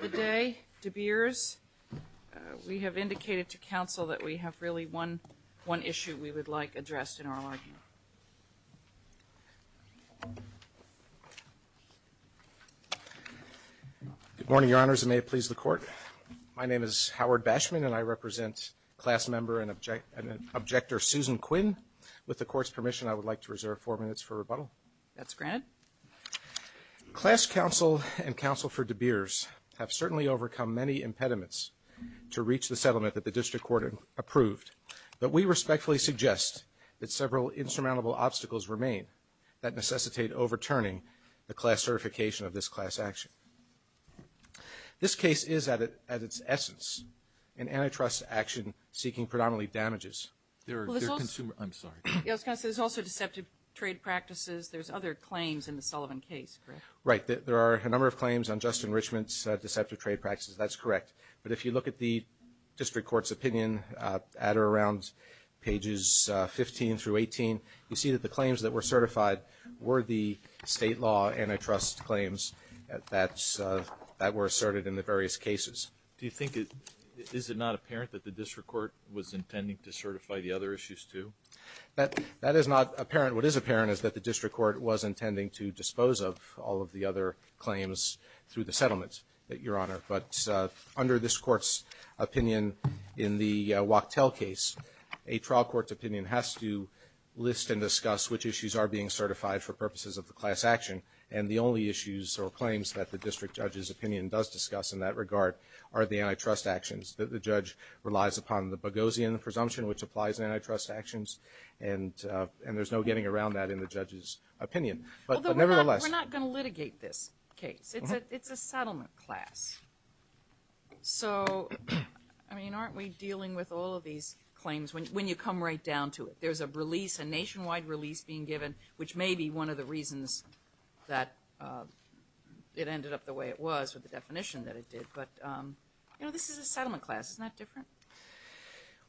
Today, De Beers, we have indicated to counsel that we have really one issue we would like addressed in our argument. Good morning, Your Honors, and may it please the Court. My name is Howard Bashman, and I represent class member and objector Susan Quinn. With the Court's permission, I would like to reserve four minutes for rebuttal. That's granted. Class counsel and counsel for De Beers have certainly overcome many impediments to reach the settlement that the district court approved, but we respectfully suggest that several insurmountable obstacles remain that necessitate overturning the class certification of this class action. This case is, at its essence, an antitrust action seeking predominantly damages. There are consumer – I'm sorry. Yes, counsel, there's also deceptive trade practices. There's other claims in the Sullivan case, correct? Right. There are a number of claims on Justin Richmond's deceptive trade practices. That's correct. But if you look at the district court's opinion at or around pages 15 through 18, you see that the claims that were certified were the state law antitrust claims that were asserted in the various cases. Do you think – is it not apparent that the district court was intending to certify the other issues, too? That is not apparent. What is apparent is that the district court was intending to dispose of all of the other claims through the settlement, Your Honor. But under this court's opinion in the Wachtell case, a trial court's opinion has to list and discuss which issues are being certified for purposes of the class action, and the only issues or claims that the district judge's opinion does discuss in that regard are the antitrust actions. The judge relies upon the Boghossian presumption, which applies in antitrust actions, and there's no getting around that in the judge's opinion. But nevertheless – Well, we're not going to litigate this case. It's a settlement class. So, I mean, aren't we dealing with all of these claims when you come right down to it? There's a release, a nationwide release being given, which may be one of the reasons that it ended up the way it was with the definition that it did. But, you know, this is a settlement class. Isn't that different?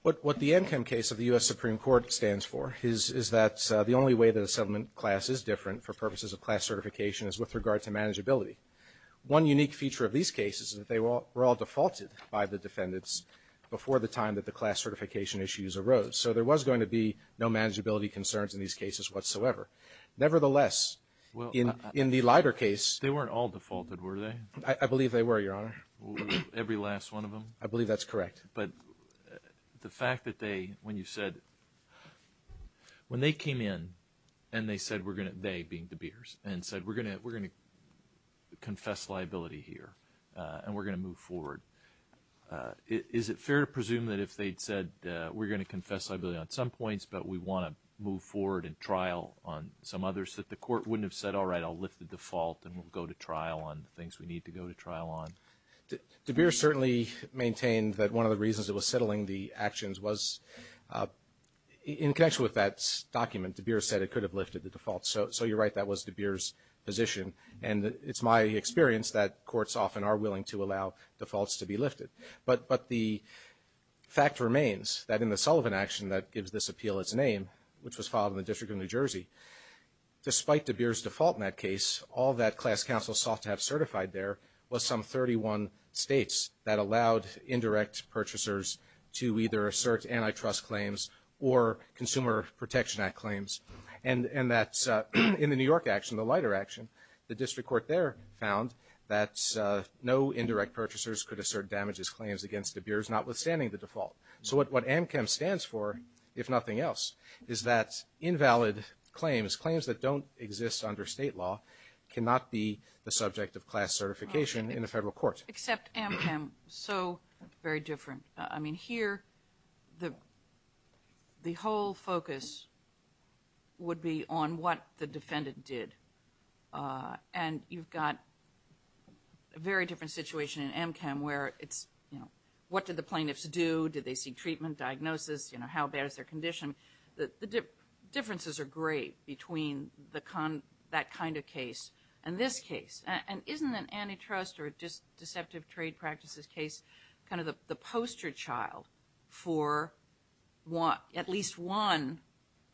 What the Ankem case of the U.S. Supreme Court stands for is that the only way that a settlement class is different for purposes of class certification is with regard to manageability. One unique feature of these cases is that they were all defaulted by the defendants before the time that the class certification issues arose. So there was going to be no manageability concerns in these cases whatsoever. Nevertheless, in the Leiter case – They weren't all defaulted, were they? I believe they were, Your Honor. Every last one of them? I believe that's correct. But the fact that they – when you said – when they came in and they said we're going to – they being De Beers – and said we're going to confess liability here and we're going to move forward, is it fair to presume that if they'd said we're going to confess liability on some points but we want to move forward and trial on some others that the court wouldn't have said, all right, I'll lift the default and we'll go to trial on the things we need to go to trial on? De Beers certainly maintained that one of the reasons it was settling the actions was in connection with that document, De Beers said it could have lifted the default. So you're right, that was De Beers' position. And it's my experience that courts often are willing to allow defaults to be lifted. But the fact remains that in the Sullivan action that gives this appeal its name, which was filed in the District of New Jersey, despite De Beers' default in that case, all that class counsel sought to have certified there was some 31 states that allowed indirect purchasers to either assert antitrust claims or Consumer Protection Act claims. And that's – in the New York action, the lighter action, the district court there found that no indirect purchasers could assert damages claims against De Beers, notwithstanding the default. So what AMCEM stands for, if nothing else, is that invalid claims, claims that don't exist under state law cannot be the subject of class certification in a federal court. Except AMCEM, so very different. I mean, here the whole focus would be on what the defendant did. And you've got a very different situation in AMCEM where it's, you know, what did the plaintiffs do? Did they seek treatment, diagnosis? You know, how bad is their condition? I mean, the differences are great between that kind of case and this case. And isn't an antitrust or deceptive trade practices case kind of the poster child for at least one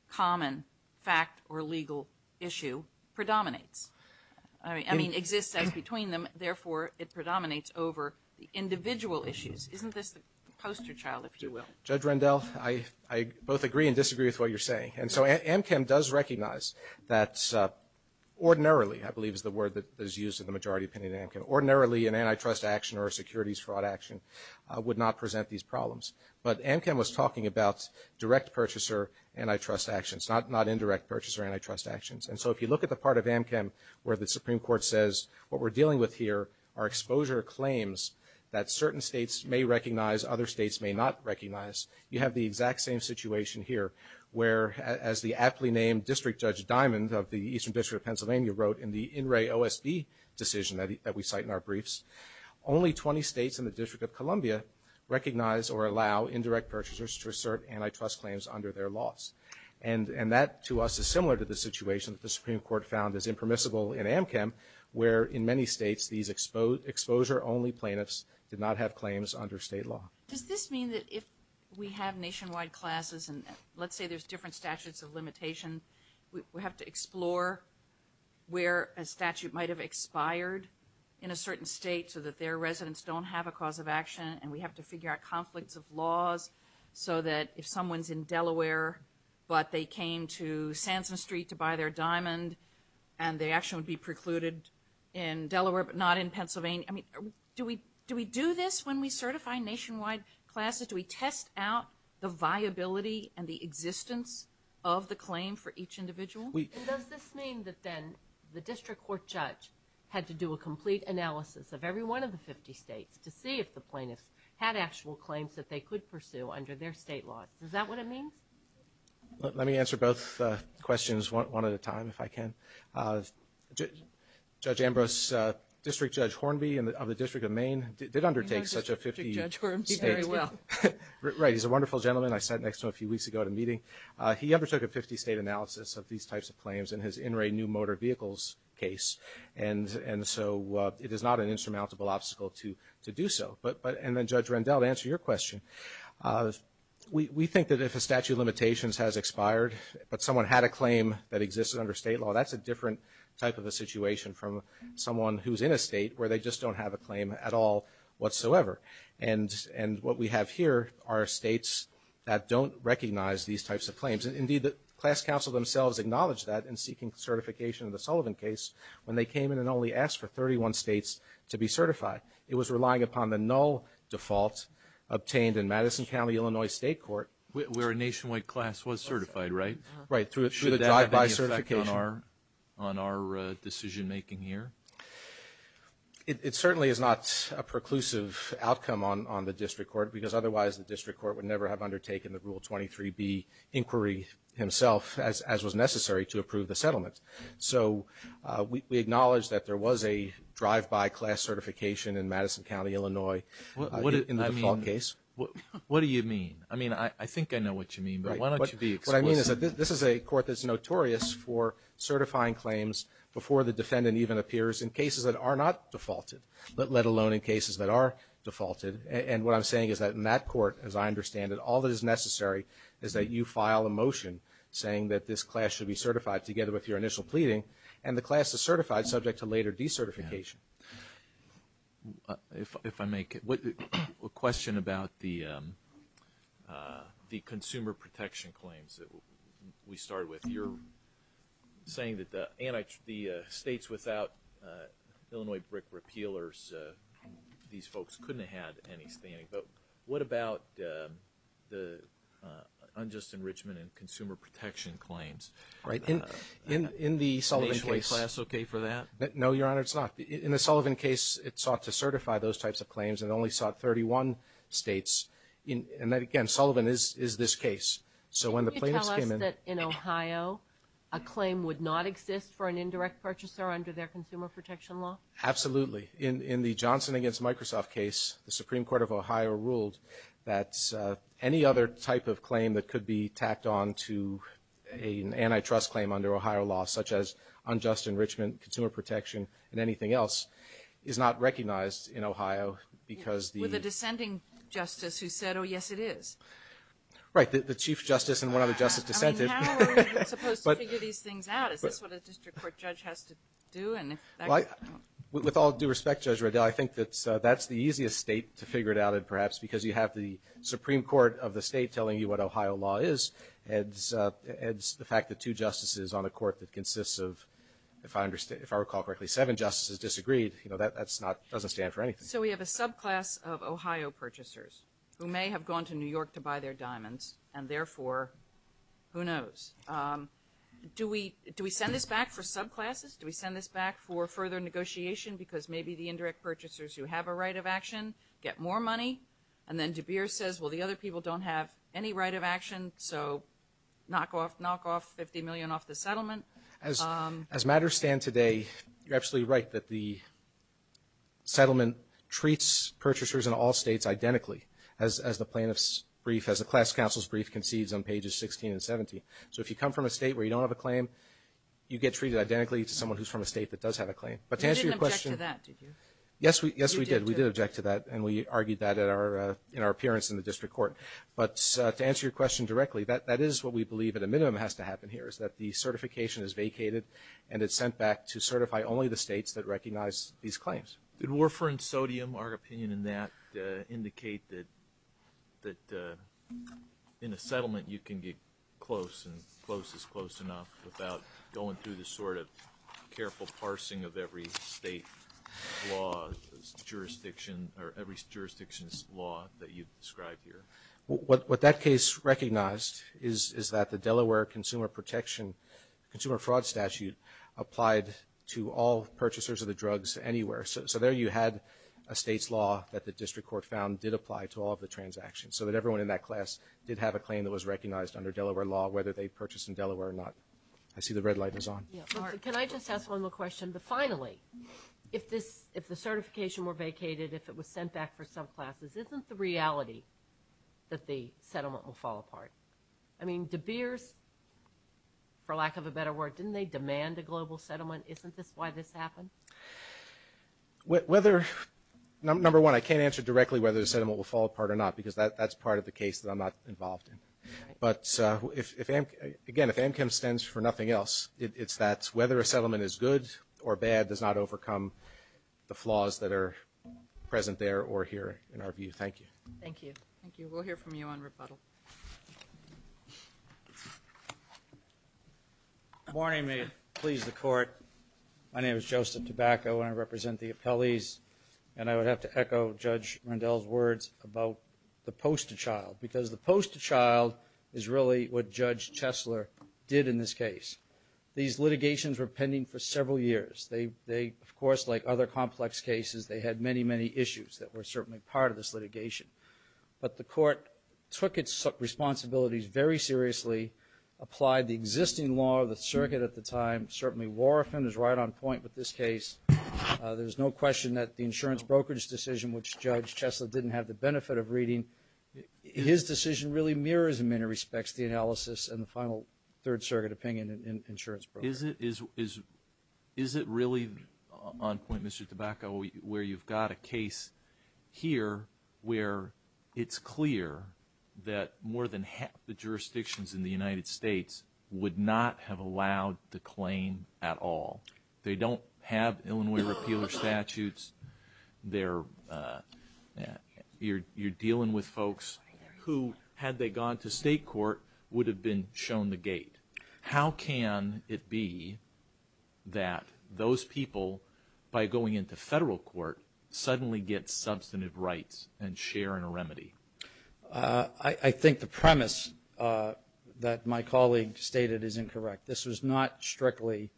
common fact or legal issue predominates? I mean, exists as between them, therefore it predominates over the individual issues. Isn't this the poster child, if you will? Judge Rendell, I both agree and disagree with what you're saying. And so AMCEM does recognize that ordinarily, I believe is the word that is used in the majority opinion, ordinarily an antitrust action or a securities fraud action would not present these problems. But AMCEM was talking about direct purchaser antitrust actions, not indirect purchaser antitrust actions. And so if you look at the part of AMCEM where the Supreme Court says what we're dealing with here are exposure claims that certain states may recognize, other states may not recognize, you have the exact same situation here, where as the aptly named District Judge Diamond of the Eastern District of Pennsylvania wrote in the In Re OSB decision that we cite in our briefs, only 20 states and the District of Columbia recognize or allow indirect purchasers to assert antitrust claims under their laws. And that to us is similar to the situation that the Supreme Court found is impermissible in AMCEM, where in many states these exposure-only plaintiffs did not have claims under state law. Does this mean that if we have nationwide classes and let's say there's different statutes of limitation, we have to explore where a statute might have expired in a certain state so that their residents don't have a cause of action and we have to figure out conflicts of laws so that if someone's in Delaware, but they came to Sansom Street to buy their diamond and they actually would be precluded in Delaware, but not in Pennsylvania, I mean, do we do this when we certify nationwide classes? Do we test out the viability and the existence of the claim for each individual? And does this mean that then the district court judge had to do a complete analysis of every one of the 50 states to see if the plaintiffs had actual claims that they could pursue under their state laws? Is that what it means? Let me answer both questions one at a time, if I can. Judge Ambrose, District Judge Hornby of the District of Maine, did undertake such a 50- I know District Judge Hornby very well. Right, he's a wonderful gentleman. I sat next to him a few weeks ago at a meeting. He undertook a 50-state analysis of these types of claims in his in-ray new motor vehicles case, and so it is not an insurmountable obstacle to do so. And then, Judge Rendell, to answer your question, we think that if a statute of limitations has expired, but someone had a claim that existed under state law, that's a different type of a situation from someone who's in a state where they just don't have a claim at all whatsoever. And what we have here are states that don't recognize these types of claims. Indeed, the class counsel themselves acknowledged that in seeking certification of the Sullivan case when they came in and only asked for 31 states to be certified. It was relying upon the null default obtained in Madison County, Illinois State Court. Where a nationwide class was certified, right? Right, through the drive-by certification. Should that have any effect on our decision-making here? It certainly is not a preclusive outcome on the district court, because otherwise the district court would never have undertaken the Rule 23B inquiry himself, as was necessary to approve the settlement. So we acknowledge that there was a drive-by class certification in Madison County, Illinois in the default case. What do you mean? I mean, I think I know what you mean, but why don't you be explicit? What I mean is that this is a court that's notorious for certifying claims before the defendant even appears in cases that are not defaulted, let alone in cases that are defaulted. And what I'm saying is that in that court, as I understand it, all that is necessary is that you file a motion saying that this class should be certified together with your initial pleading, and the class is certified subject to later decertification. If I may, a question about the consumer protection claims that we started with. You're saying that the states without Illinois brick repealers, these folks couldn't have had any standing. But what about the unjust enrichment and consumer protection claims? Right. In the Sullivan case. Is the nationwide class okay for that? No, Your Honor, it's not. In the Sullivan case, it sought to certify those types of claims, and it only sought 31 states. And again, Sullivan is this case. Can you tell us that in Ohio, a claim would not exist for an indirect purchaser under their consumer protection law? Absolutely. In the Johnson against Microsoft case, the Supreme Court of Ohio ruled that any other type of claim that could be tacked on to an antitrust claim under Ohio law, such as unjust enrichment, consumer protection, and anything else, is not recognized in Ohio because the — With a descending justice who said, oh, yes, it is. Right. The chief justice and one other justice dissented. I mean, how are we supposed to figure these things out? Is this what a district court judge has to do? With all due respect, Judge Riddell, I think that's the easiest state to figure it out in, perhaps, because you have the Supreme Court of the state telling you what Ohio law is, adds the fact that two justices on a court that consists of, if I recall correctly, seven justices disagreed. You know, that doesn't stand for anything. So we have a subclass of Ohio purchasers who may have gone to New York to buy their diamonds, and therefore, who knows? Do we send this back for subclasses? Do we send this back for further negotiation because maybe the indirect purchasers who have a right of action get more money? And then De Beers says, well, the other people don't have any right of action, so knock off $50 million off the settlement. As matters stand today, you're absolutely right that the settlement treats purchasers in all states identically, as the plaintiff's brief, as the class counsel's brief concedes on pages 16 and 17. So if you come from a state where you don't have a claim, you get treated identically to someone who's from a state that does have a claim. But to answer your question — You didn't object to that, did you? Yes, we did. You did, too. We did object to that, and we argued that in our appearance in the district court. But to answer your question directly, that is what we believe at a minimum has to happen here, is that the certification is vacated and it's sent back to certify only the states that recognize these claims. Did warfarin sodium, our opinion in that, indicate that in a settlement you can get close, and close is close enough without going through the sort of careful parsing of every state law, every jurisdiction's law that you've described here? What that case recognized is that the Delaware consumer protection, consumer fraud statute applied to all purchasers of the drugs anywhere. So there you had a state's law that the district court found did apply to all of the transactions, so that everyone in that class did have a claim that was recognized under Delaware law, whether they purchased in Delaware or not. I see the red light is on. Can I just ask one more question? Finally, if the certification were vacated, if it was sent back for some classes, isn't the reality that the settlement will fall apart? I mean, De Beers, for lack of a better word, didn't they demand a global settlement? Isn't this why this happened? Number one, I can't answer directly whether the settlement will fall apart or not, because that's part of the case that I'm not involved in. But, again, if AmChem stands for nothing else, it's that whether a settlement is good or bad does not overcome the flaws that are present there or here in our view. Thank you. Thank you. Thank you. We'll hear from you on rebuttal. Good morning. May it please the Court. My name is Joseph Tobacco, and I represent the appellees. And I would have to echo Judge Rendell's words about the poster child, because the poster child is really what Judge Chesler did in this case. These litigations were pending for several years. They, of course, like other complex cases, they had many, many issues that were certainly part of this litigation. But the Court took its responsibilities very seriously, applied the existing law of the circuit at the time. Certainly, Warofin is right on point with this case. There's no question that the insurance brokerage decision, which Judge Chesler didn't have the benefit of reading, his decision really mirrors, in many respects, the analysis and the final Third Circuit opinion in insurance brokerage. Is it really on point, Mr. Tobacco, where you've got a case here where it's clear that more than half the jurisdictions in the United States would not have allowed the claim at all? They don't have Illinois repealer statutes. You're dealing with folks who, had they gone to state court, would have been shown the gate. How can it be that those people, by going into federal court, suddenly get substantive rights and share in a remedy? I think the premise that my colleague stated is incorrect. This was not strictly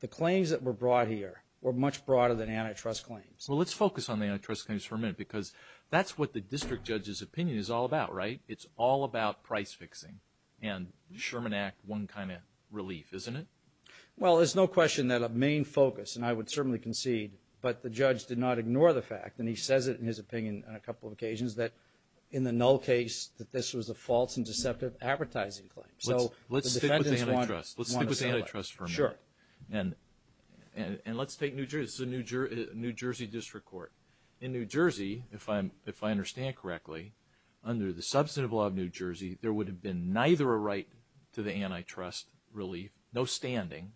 the claims that were brought here were much broader than antitrust claims. Well, let's focus on the antitrust claims for a minute, because that's what the district judge's opinion is all about, right? It's all about price fixing. And Sherman Act, one kind of relief, isn't it? Well, there's no question that a main focus, and I would certainly concede, but the judge did not ignore the fact, and he says it in his opinion on a couple of occasions, that in the null case, that this was a false and deceptive advertising claim. Let's stick with antitrust for a minute. And let's take New Jersey. This is a New Jersey district court. In New Jersey, if I understand correctly, under the substantive law of New Jersey, there would have been neither a right to the antitrust relief, no standing,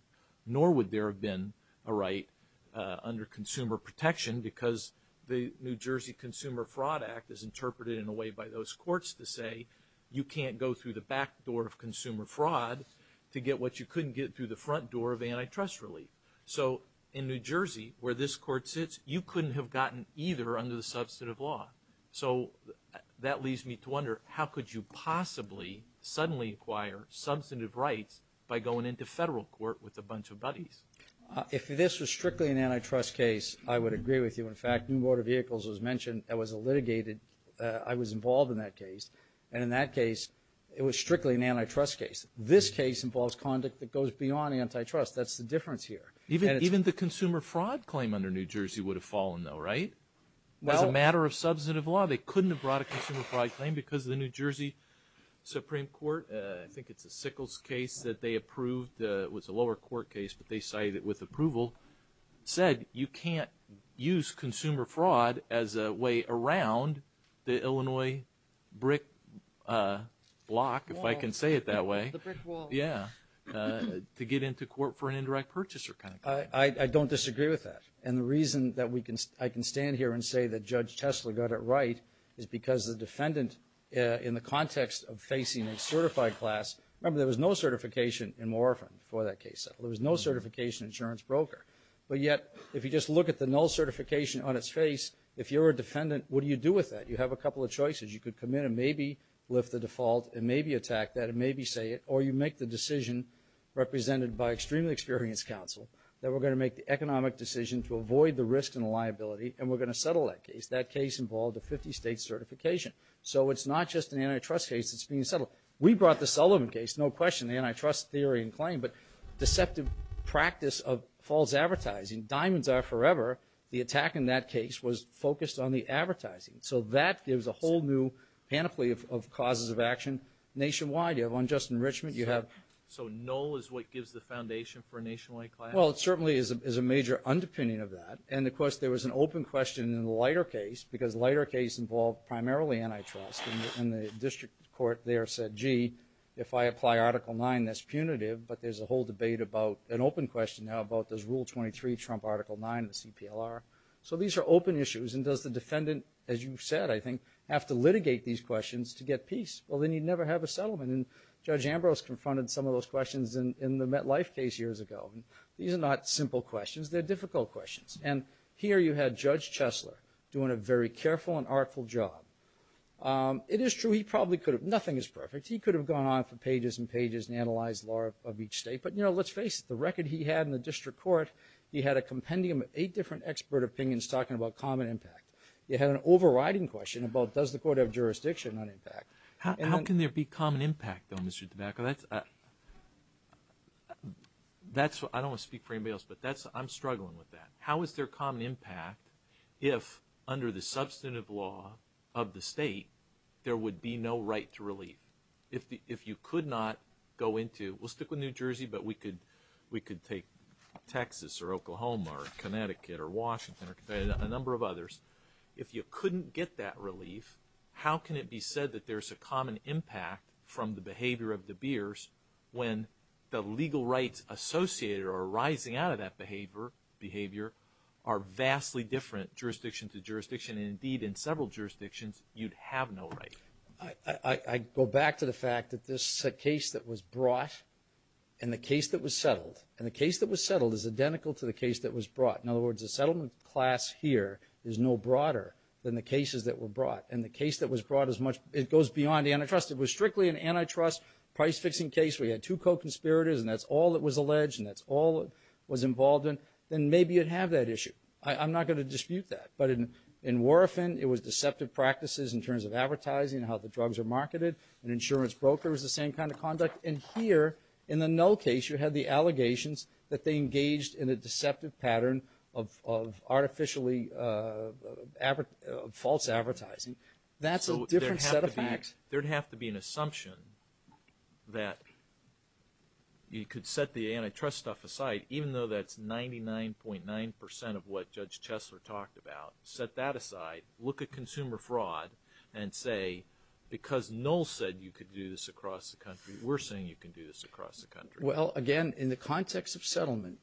nor would there have been a right under consumer protection because the New Jersey Consumer Fraud Act is interpreted in a way by those courts to say you can't go through the back door of consumer fraud to get what you couldn't get through the front door of antitrust relief. So in New Jersey, where this court sits, you couldn't have gotten either under the substantive law. So that leaves me to wonder, how could you possibly suddenly acquire substantive rights by going into federal court with a bunch of buddies? If this was strictly an antitrust case, I would agree with you. In fact, New Motor Vehicles was mentioned. I was involved in that case, and in that case, it was strictly an antitrust case. This case involves conduct that goes beyond antitrust. That's the difference here. Even the consumer fraud claim under New Jersey would have fallen, though, right? As a matter of substantive law, they couldn't have brought a consumer fraud claim because the New Jersey Supreme Court, I think it's a Sickles case that they approved. It was a lower court case, but they cited it with approval. It said you can't use consumer fraud as a way around the Illinois brick block, if I can say it that way, to get into court for an indirect purchaser kind of claim. I don't disagree with that, and the reason that I can stand here and say that Judge Tesler got it right is because the defendant, in the context of facing a certified class, remember, there was no certification in Morrison for that case. There was no certification insurance broker. But yet, if you just look at the null certification on its face, if you're a defendant, what do you do with that? You have a couple of choices. You could commit and maybe lift the default and maybe attack that and maybe say it, or you make the decision, represented by extremely experienced counsel, that we're going to make the economic decision to avoid the risk and the liability, and we're going to settle that case. That case involved a 50-state certification. So it's not just an antitrust case that's being settled. We brought the Sullivan case, no question, the antitrust theory and claim, but deceptive practice of false advertising. Diamonds are forever. The attack in that case was focused on the advertising. So that gives a whole new panoply of causes of action nationwide. You have unjust enrichment, you have... So null is what gives the foundation for a nationwide class? Well, it certainly is a major underpinning of that. And, of course, there was an open question in the lighter case because the lighter case involved primarily antitrust, and the district court there said, gee, if I apply Article 9, that's punitive, but there's a whole debate about an open question now about does Rule 23 trump Article 9 of the CPLR? So these are open issues, and does the defendant, as you said, I think, have to litigate these questions to get peace? Well, then you'd never have a settlement. And Judge Ambrose confronted some of those questions in the MetLife case years ago. These are not simple questions. They're difficult questions. And here you had Judge Chesler doing a very careful and artful job. It is true he probably could have... nothing is perfect. He could have gone on for pages and pages and analyzed the law of each state, but, you know, let's face it, the record he had in the district court, he had a compendium of eight different expert opinions talking about common impact. He had an overriding question about does the court have jurisdiction on impact. How can there be common impact, though, Mr. DeBacco? I don't want to speak for anybody else, but I'm struggling with that. How is there common impact if, under the substantive law of the state, there would be no right to relief? If you could not go into, we'll stick with New Jersey, but we could take Texas or Oklahoma or Connecticut or Washington or a number of others, if you couldn't get that relief, how can it be said that there's a common impact from the behavior of DeBeers when the legal rights associated or arising out of that behavior are vastly different jurisdiction to jurisdiction, and, indeed, in several jurisdictions, you'd have no right? I go back to the fact that this case that was brought and the case that was settled, and the case that was settled is identical to the case that was brought. In other words, the settlement class here is no broader than the cases that were brought. And the case that was brought, it goes beyond antitrust. It was strictly an antitrust price-fixing case where you had two co-conspirators and that's all that was alleged and that's all that was involved in, then maybe you'd have that issue. I'm not going to dispute that. But in Warofin, it was deceptive practices in terms of advertising and how the drugs are marketed. An insurance broker was the same kind of conduct. And here, in the Null case, you had the allegations that they engaged in a deceptive pattern of artificially false advertising. That's a different set of facts. There'd have to be an assumption that you could set the antitrust stuff aside, even though that's 99.9% of what Judge Chesler talked about. Set that aside, look at consumer fraud, and say, because Null said you could do this across the country, we're saying you can do this across the country. Well, again, in the context of settlement,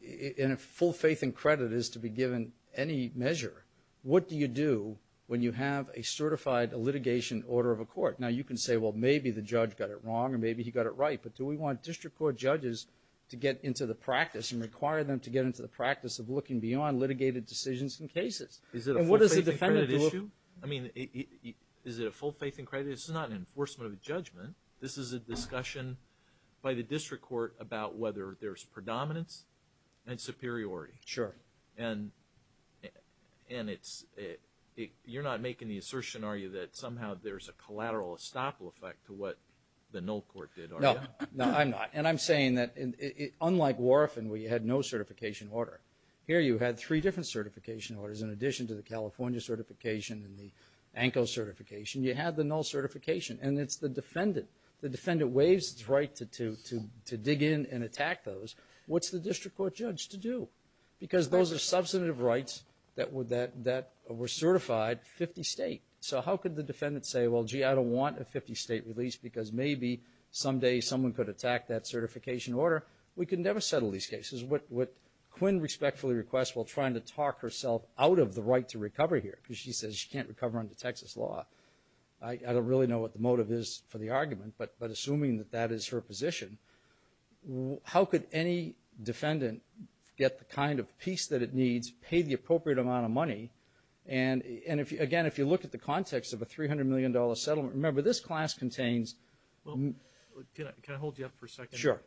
in a full faith and credit is to be given any measure, what do you do when you have a certified litigation order of a court? Now, you can say, well, maybe the judge got it wrong or maybe he got it right. But do we want district court judges to get into the practice and require them to get into the practice of looking beyond litigated decisions and cases? Is it a full faith and credit issue? I mean, is it a full faith and credit issue? This is not an enforcement of a judgment. This is a discussion by the district court about whether there's predominance and superiority. Sure. And you're not making the assertion, are you, that somehow there's a collateral estoppel effect to what the Null court did, are you? No, I'm not. And I'm saying that, unlike Warrefin, where you had no certification order, here you had three different certification orders in addition to the California certification and the ANCO certification. You had the Null certification. And it's the defendant. The defendant waives its right to dig in and attack those. What's the district court judge to do? Because those are substantive rights that were certified 50-state. So how could the defendant say, well, gee, I don't want a 50-state release because maybe someday someone could attack that certification order. We can never settle these cases. What Quinn respectfully requests while trying to talk herself out of the right to recover here, because she says she can't recover under Texas law, I don't really know what the motive is for the argument, but assuming that that is her position, how could any defendant get the kind of peace that it needs, pay the appropriate amount of money, and again, if you look at the context of a $300 million settlement, remember this class contains... Can I hold you up for a second? Sure.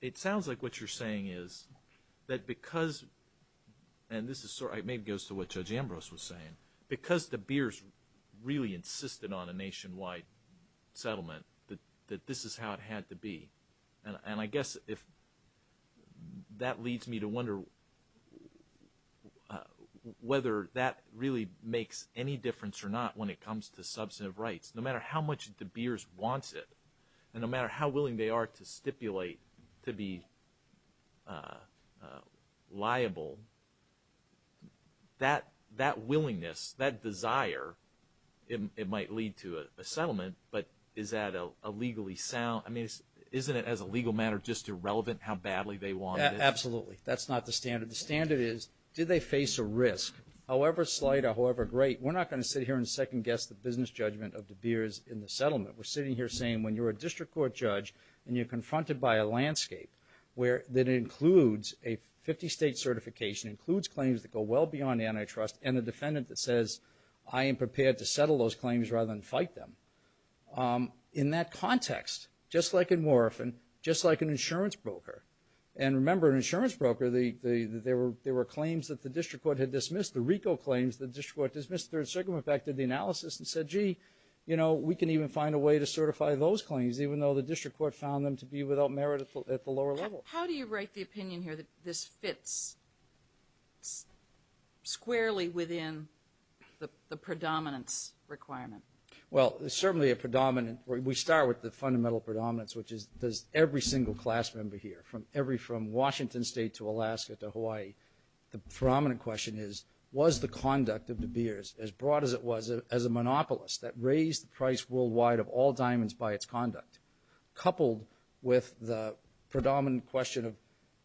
It sounds like what you're saying is that because, and this maybe goes to what Judge Ambrose was saying, because the Beers really insisted on a nationwide settlement that this is how it had to be. And I guess if that leads me to wonder whether that really makes any difference or not when it comes to substantive rights. No matter how much the Beers wants it, and no matter how willing they are to stipulate to be liable, that willingness, that desire, it might lead to a settlement, but is that a legally sound... I mean, isn't it as a legal matter just irrelevant how badly they want it? Absolutely. That's not the standard. The standard is, do they face a risk? However slight or however great, we're not going to sit here and second-guess the business judgment of the Beers in the settlement. We're sitting here saying when you're a district court judge and you're confronted by a landscape that includes a 50-state certification, includes claims that go well beyond antitrust, and a defendant that says, I am prepared to settle those claims rather than fight them. In that context, just like in Morrison, just like an insurance broker, and remember an insurance broker, there were claims that the district court had dismissed, the RICO claims the district court dismissed. Third Circuit in fact did the analysis and said, gee, you know, we can even find a way to certify those claims, even though the district court found them to be without merit at the lower level. How do you write the opinion here that this fits squarely within the predominance requirement? Well, there's certainly a predominant. We start with the fundamental predominance, which is does every single class member here, from Washington State to Alaska to Hawaii, the predominant question is, was the conduct of De Beers, as broad as it was as a monopolist, that raised the price worldwide of all diamonds by its conduct, coupled with the predominant question of,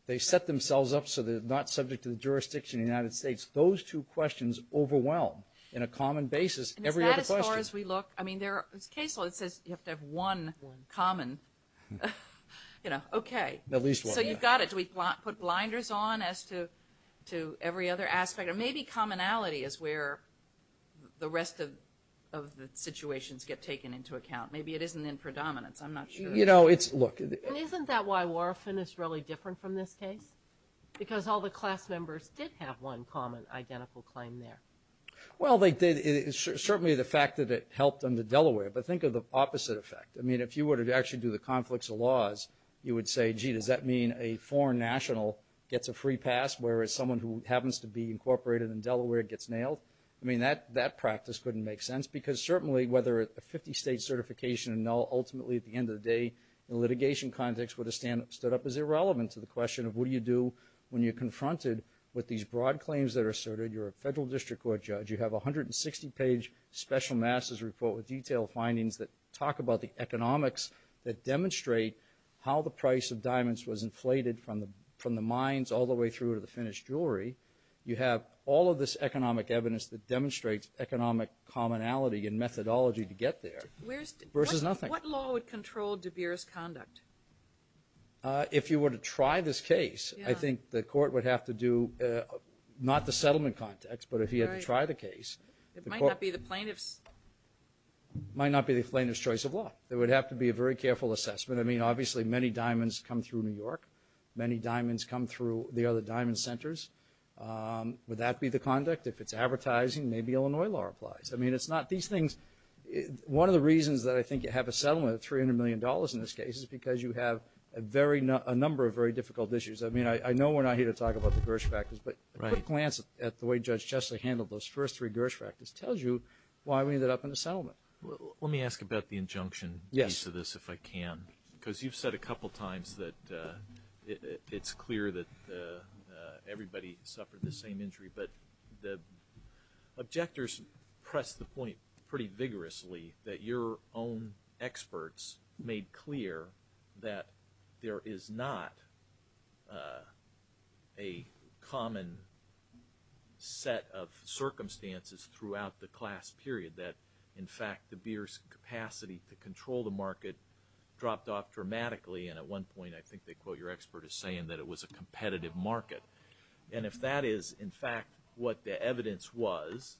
they set themselves up so they're not subject to the jurisdiction of the United States. Those two questions overwhelm in a common basis every other question. And is that as far as we look? I mean, there's a case law that says you have to have one common, you know, okay. At least one, yeah. So you've got it. Should we put blinders on as to every other aspect? Or maybe commonality is where the rest of the situations get taken into account. Maybe it isn't in predominance. I'm not sure. You know, it's, look. And isn't that why Warofin is really different from this case? Because all the class members did have one common, identical claim there. Well, they did. It's certainly the fact that it helped under Delaware. But think of the opposite effect. I mean, if you were to actually do the conflicts of laws, you would say, well, gee, does that mean a foreign national gets a free pass, whereas someone who happens to be incorporated in Delaware gets nailed? I mean, that practice couldn't make sense. Because certainly whether a 50-state certification, ultimately at the end of the day, in a litigation context would have stood up as irrelevant to the question of what do you do when you're confronted with these broad claims that are asserted. You're a federal district court judge. You have a 160-page special master's report with detailed findings that talk about the economics that demonstrate how the price of diamonds was inflated from the mines all the way through to the finished jewelry. You have all of this economic evidence that demonstrates economic commonality and methodology to get there versus nothing. What law would control De Beers' conduct? If you were to try this case, I think the court would have to do not the settlement context, but if you had to try the case. It might not be the plaintiff's. It might not be the plaintiff's choice of law. There would have to be a very careful assessment. I mean, obviously many diamonds come through New York. Many diamonds come through the other diamond centers. Would that be the conduct? If it's advertising, maybe Illinois law applies. I mean, it's not these things. One of the reasons that I think you have a settlement of $300 million in this case is because you have a number of very difficult issues. I mean, I know we're not here to talk about the Gersh practice, but a quick glance at the way Judge Chesley handled those first three Gersh practices tells you why we ended up in a settlement. Let me ask about the injunction piece of this if I can. Yes. Because you've said a couple times that it's clear that everybody suffered the same injury, but the objectors pressed the point pretty vigorously that your own experts made clear that there is not a common set of circumstances throughout the class period that, in fact, the beer's capacity to control the market dropped off dramatically, and at one point I think they quote your expert as saying that it was a competitive market. And if that is, in fact, what the evidence was,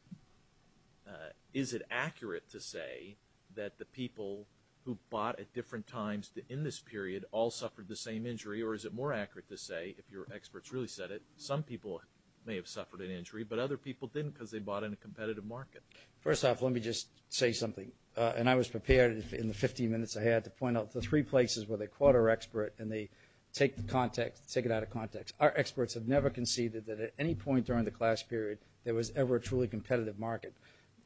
is it accurate to say that the people who bought at different times in this period all suffered the same injury, or is it more accurate to say, if your experts really said it, some people may have suffered an injury, but other people didn't because they bought in a competitive market? First off, let me just say something, and I was prepared in the 15 minutes I had to point out the three places where they quote our expert and they take it out of context. Our experts have never conceded that at any point during the class period there was ever a truly competitive market.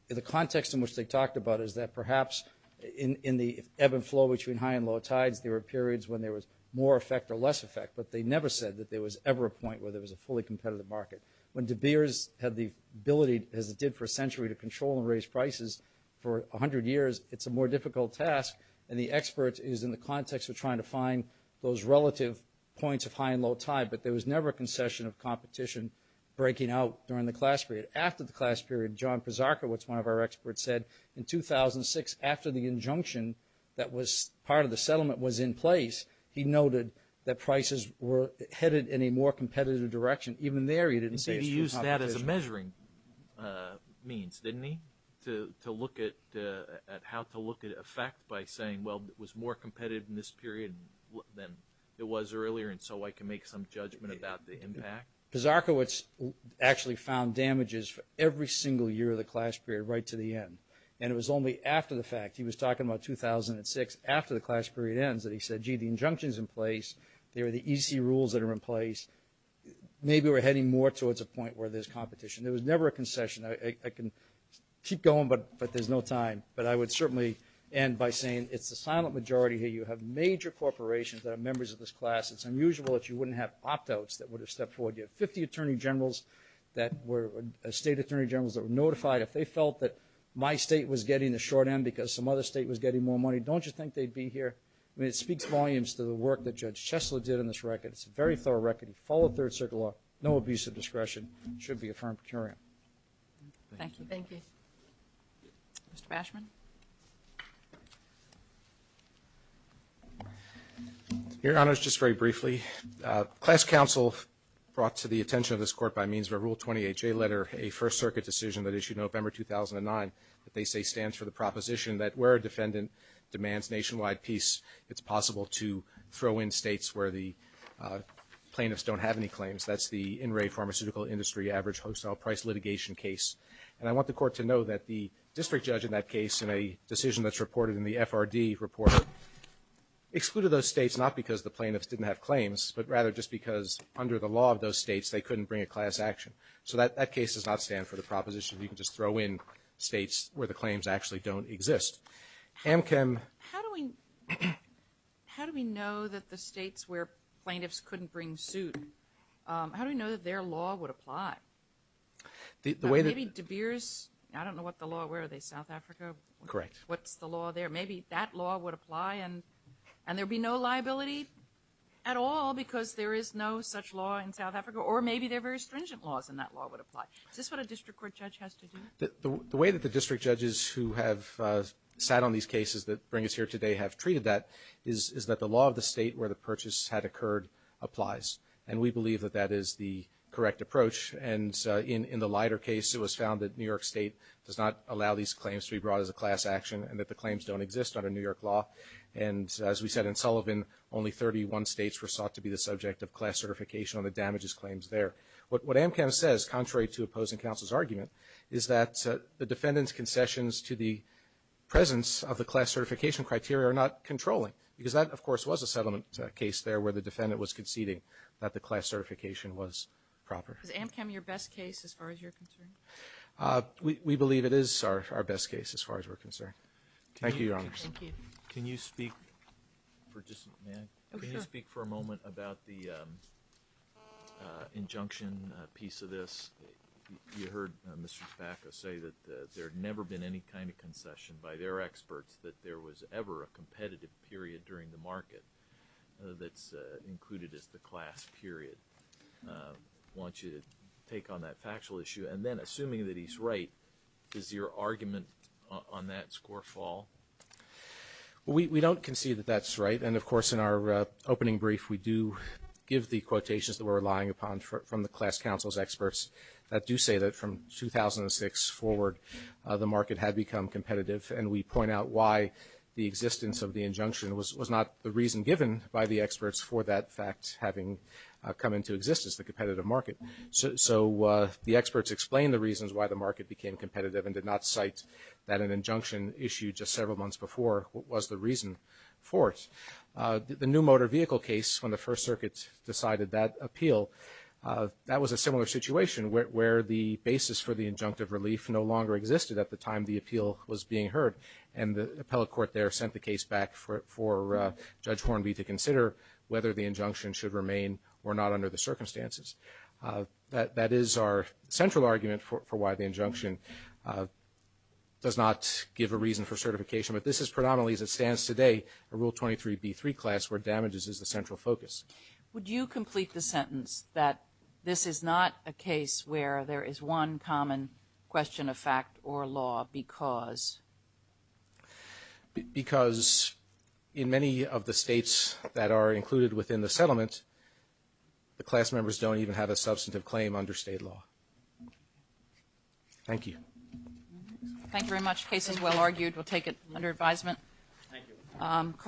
The context in which they talked about is that perhaps in the ebb and flow between high and low tides, there were periods when there was more effect or less effect, but they never said that there was ever a point where there was a fully competitive market. When De Beers had the ability, as it did for a century, to control and raise prices for 100 years, it's a more difficult task, and the expert is in the context of trying to find those relative points of high and low tide, but there was never a concession of competition breaking out during the class period. After the class period, John Pazarka, which is one of our experts, said in 2006 after the injunction that was part of the settlement was in place, he noted that prices were headed in a more competitive direction. Even there he didn't say it's true competition. He used that as a measuring means, didn't he, to look at how to look at effect by saying, well, it was more competitive in this period than it was earlier, and so I can make some judgment about the impact. Pazarka actually found damages for every single year of the class period right to the end, and it was only after the fact, he was talking about 2006, after the class period ends that he said, gee, the injunction's in place, they were the easy rules that are in place. Maybe we're heading more towards a point where there's competition. There was never a concession. I can keep going, but there's no time, but I would certainly end by saying it's a silent majority here. You have major corporations that are members of this class. It's unusual that you wouldn't have opt-outs that would have stepped forward. You have 50 attorney generals that were state attorney generals that were notified. If they felt that my state was getting the short end because some other state was getting more money, don't you think they'd be here? I mean, it speaks volumes to the work that Judge Chesler did on this record. It's a very thorough record. He followed Third Circuit law. No abuse of discretion. It should be a firm curium. Thank you. Thank you. Mr. Bashman. Your Honors, just very briefly, class counsel brought to the attention of this Court by means of a Rule 28J letter, a First Circuit decision that issued November 2009 that they say stands for the proposition that where a defendant demands nationwide peace, it's possible to throw in states where the plaintiffs don't have any claims. That's the In Re Pharmaceutical Industry Average Hostile Price Litigation case. And I want the Court to know that the district judge in that case in a decision that's reported in the FRD report excluded those states not because the plaintiffs didn't have claims, but rather just because under the law of those states they couldn't bring a class action. So that case does not stand for the proposition you can just throw in states where the claims actually don't exist. Amchem. How do we know that the states where plaintiffs couldn't bring suit, how do we know that their law would apply? Maybe De Beers, I don't know what the law, where are they, South Africa? Correct. What's the law there? Maybe that law would apply and there would be no liability at all because there is no such law in South Africa, or maybe there are very stringent laws and that law would apply. Is this what a district court judge has to do? The way that the district judges who have sat on these cases that bring us here today have treated that is that the law of the state where the purchase had occurred applies. And we believe that that is the correct approach. And in the Leiter case, it was found that New York State does not allow these claims to be brought as a class action and that the claims don't exist under New York law. And as we said in Sullivan, only 31 states were sought to be the subject of class certification on the damages claims there. What Amchem says, contrary to opposing counsel's argument, is that the defendant's concessions to the presence of the class certification criteria are not controlling because that, of course, was a settlement case there where the defendant was conceding that the class certification was proper. Is Amchem your best case as far as you're concerned? We believe it is our best case as far as we're concerned. Thank you, Your Honors. Thank you. Can you speak for just a minute? Can you speak for a moment about the injunction piece of this? You heard Mr. Spakos say that there had never been any kind of concession by their experts that there was ever a competitive period during the market that's included as the class period. I want you to take on that factual issue. And then assuming that he's right, is your argument on that score fall? We don't concede that that's right. And, of course, in our opening brief we do give the quotations that we're relying upon from the class counsel's experts that do say that from 2006 forward the market had become competitive. And we point out why the existence of the injunction was not the reason given by the experts for that fact having come into existence, the competitive market. So the experts explain the reasons why the market became competitive and did not cite that an injunction issued just several months before was the reason for it. The new motor vehicle case, when the First Circuit decided that appeal, that was a similar situation where the basis for the injunctive relief no longer existed at the time the appeal was being heard. And the appellate court there sent the case back for Judge Hornby to consider whether the injunction should remain or not under the circumstances. That is our central argument for why the injunction does not give a reason for certification. But this is predominantly as it stands today a Rule 23b3 class where damages is the central focus. Would you complete the sentence that this is not a case where there is one common question of fact or law because? Because in many of the states that are included within the settlement, the class members don't even have a substantive claim under state law. Thank you. Thank you very much. The case is well argued. We'll take it under advisement. Thank you.